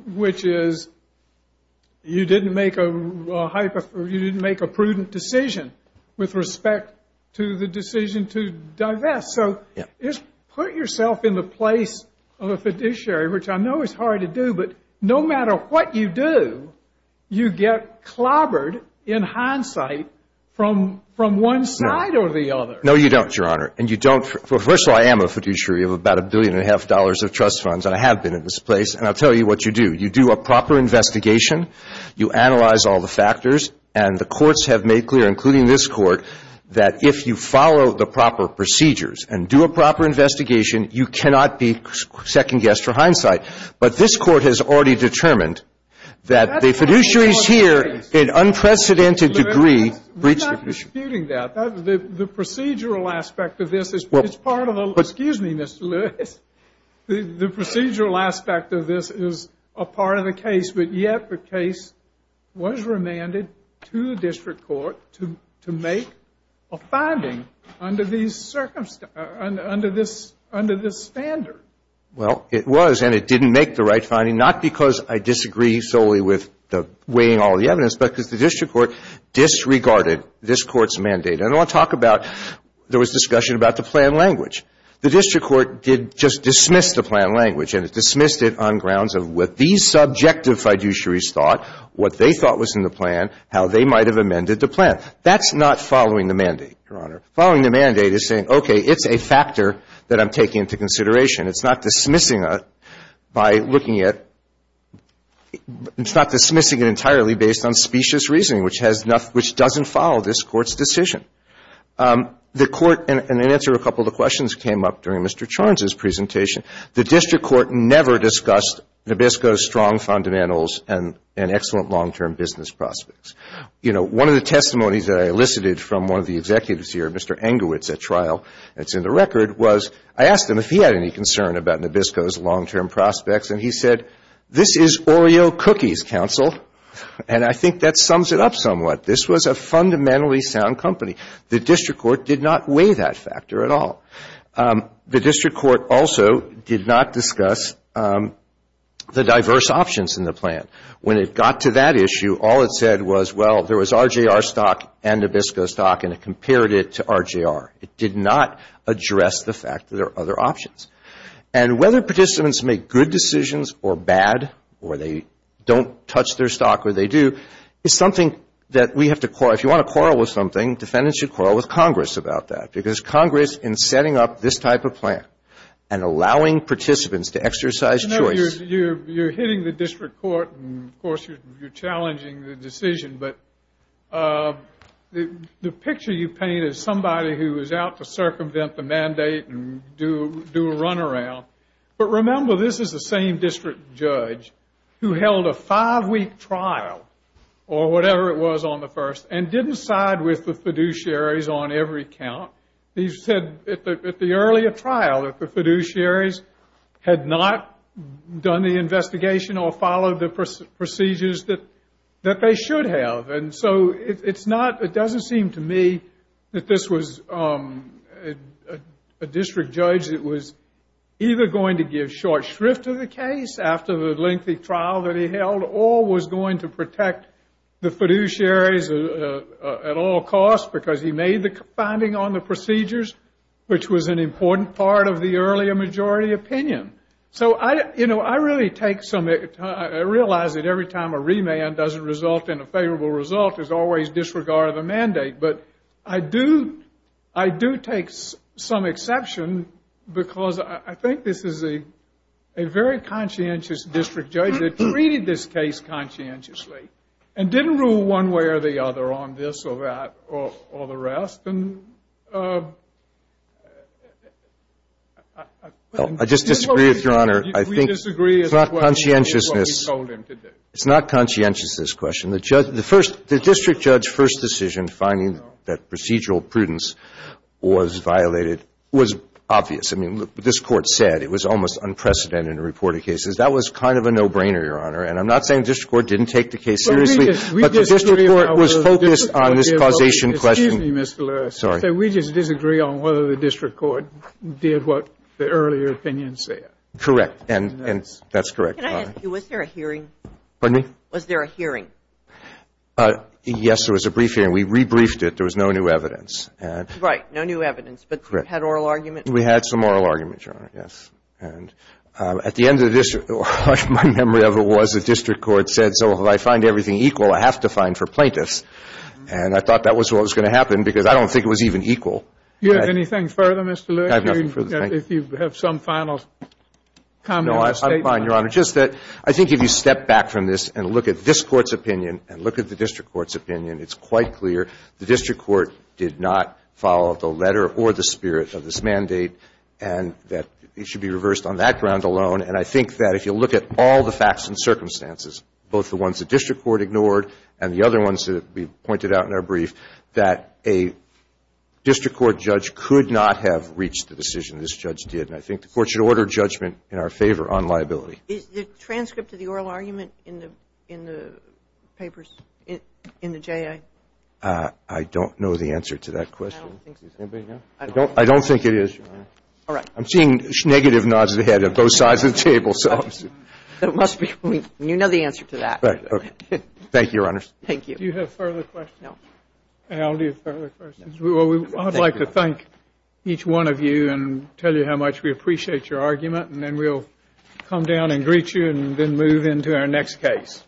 which is you didn't make a – you didn't make a prudent decision with respect to the decision to divest. So just put yourself in the place of a fiduciary, which I know is hard to do. But no matter what you do, you get clobbered in hindsight from – from one side or the other. No, you don't, Your Honor. And you don't – well, first of all, I am a fiduciary of about a billion and a half dollars of trust funds, and I have been in this place. And I'll tell you what you do. You do a proper investigation. You analyze all the factors. And the courts have made clear, including this court, that if you follow the proper procedures and do a proper investigation, you cannot be second-guessed for hindsight. But this court has already determined that the fiduciaries here in unprecedented degree breach the – We're not disputing that. The procedural aspect of this is part of the – excuse me, Mr. Lewis. The procedural aspect of this is a part of the case, but yet the case was remanded to the district court to make a finding under these – under this standard. Well, it was, and it didn't make the right finding, not because I disagree solely with the weighing all the evidence, but because the district court disregarded this court's mandate. And I want to talk about – there was discussion about the plan language. The district court did just dismiss the plan language, and it dismissed it on grounds of what these subjective fiduciaries thought, what they thought was in the plan, how they might have amended the plan. That's not following the mandate, Your Honor. Following the mandate is saying, okay, it's a factor that I'm taking into consideration. It's not dismissing it by looking at – it's not dismissing it entirely based on specious reasoning, which has – which doesn't follow this court's decision. The court – and in answer to a couple of the questions that came up during Mr. Charnes' presentation, the district court never discussed Nabisco's strong fundamentals and excellent long-term business prospects. You know, one of the testimonies that I elicited from one of the executives here, Mr. Engowitz, at trial that's in the record, was I asked him if he had any concern about Nabisco's long-term prospects, and he said, this is Oreo cookies, counsel, and I think that sums it up somewhat. This was a fundamentally sound company. The district court did not weigh that factor at all. The district court also did not discuss the diverse options in the plan. When it got to that issue, all it said was, well, there was RJR stock and Nabisco stock, and it compared it to RJR. It did not address the fact that there are other options. And whether participants make good decisions or bad, or they don't touch their stock, or they do, is something that we have to – if you want to quarrel with something, defendants should quarrel with Congress about that, because Congress, in setting up this type of plan and allowing participants to exercise choice – as somebody who is out to circumvent the mandate and do a runaround. But remember, this is the same district judge who held a five-week trial, or whatever it was on the first, and didn't side with the fiduciaries on every count. He said at the earlier trial that the fiduciaries had not done the investigation or followed the procedures that they should have. And so it's not – it doesn't seem to me that this was a district judge that was either going to give short shrift to the case after the lengthy trial that he held, or was going to protect the fiduciaries at all costs because he made the finding on the procedures, which was an important part of the earlier majority opinion. So, you know, I really take some – I realize that every time a remand doesn't result in a favorable result, there's always disregard of the mandate. But I do take some exception, because I think this is a very conscientious district judge that treated this case conscientiously and didn't rule one way or the other on this or that or the rest. And I just disagree with Your Honor. I think it's not conscientiousness. It's not conscientiousness question. The first – the district judge's first decision finding that procedural prudence was violated was obvious. I mean, this Court said it was almost unprecedented in reported cases. That was kind of a no-brainer, Your Honor. And I'm not saying the district court didn't take the case seriously, but the district court was focused on this causation question. Excuse me, Mr. Lewis. Sorry. We just disagree on whether the district court did what the earlier opinion said. Correct. And that's correct. Can I ask you, was there a hearing? Pardon me? Was there a hearing? Yes, there was a brief hearing. We rebriefed it. There was no new evidence. Right, no new evidence. But you had oral arguments? We had some oral arguments, Your Honor, yes. And at the end of the district – my memory of it was the district court said, so if I find everything equal, I have to fine for plaintiffs. And I thought that was what was going to happen, because I don't think it was even equal. Do you have anything further, Mr. Lewis? I have nothing further. If you have some final comment or statement. I'm fine, Your Honor. Just that I think if you step back from this and look at this Court's opinion and look at the district court's opinion, it's quite clear the district court did not follow the letter or the spirit of this mandate and that it should be reversed on that ground alone. And I think that if you look at all the facts and circumstances, both the ones the district court ignored and the other ones that we pointed out in our brief, that a district court judge could not have reached the decision this judge did. And I think the Court should order judgment in our favor on liability. Is the transcript of the oral argument in the papers, in the J.A.? I don't know the answer to that question. I don't think so. Does anybody know? I don't think it is, Your Honor. All right. I'm seeing negative nods of the head at both sides of the table. It must be. You know the answer to that. Right. Okay. Thank you, Your Honor. Thank you. Do you have further questions? No. I'll leave further questions. I'd like to thank each one of you and tell you how much we appreciate your argument. And then we'll come down and greet you and then move into our next case.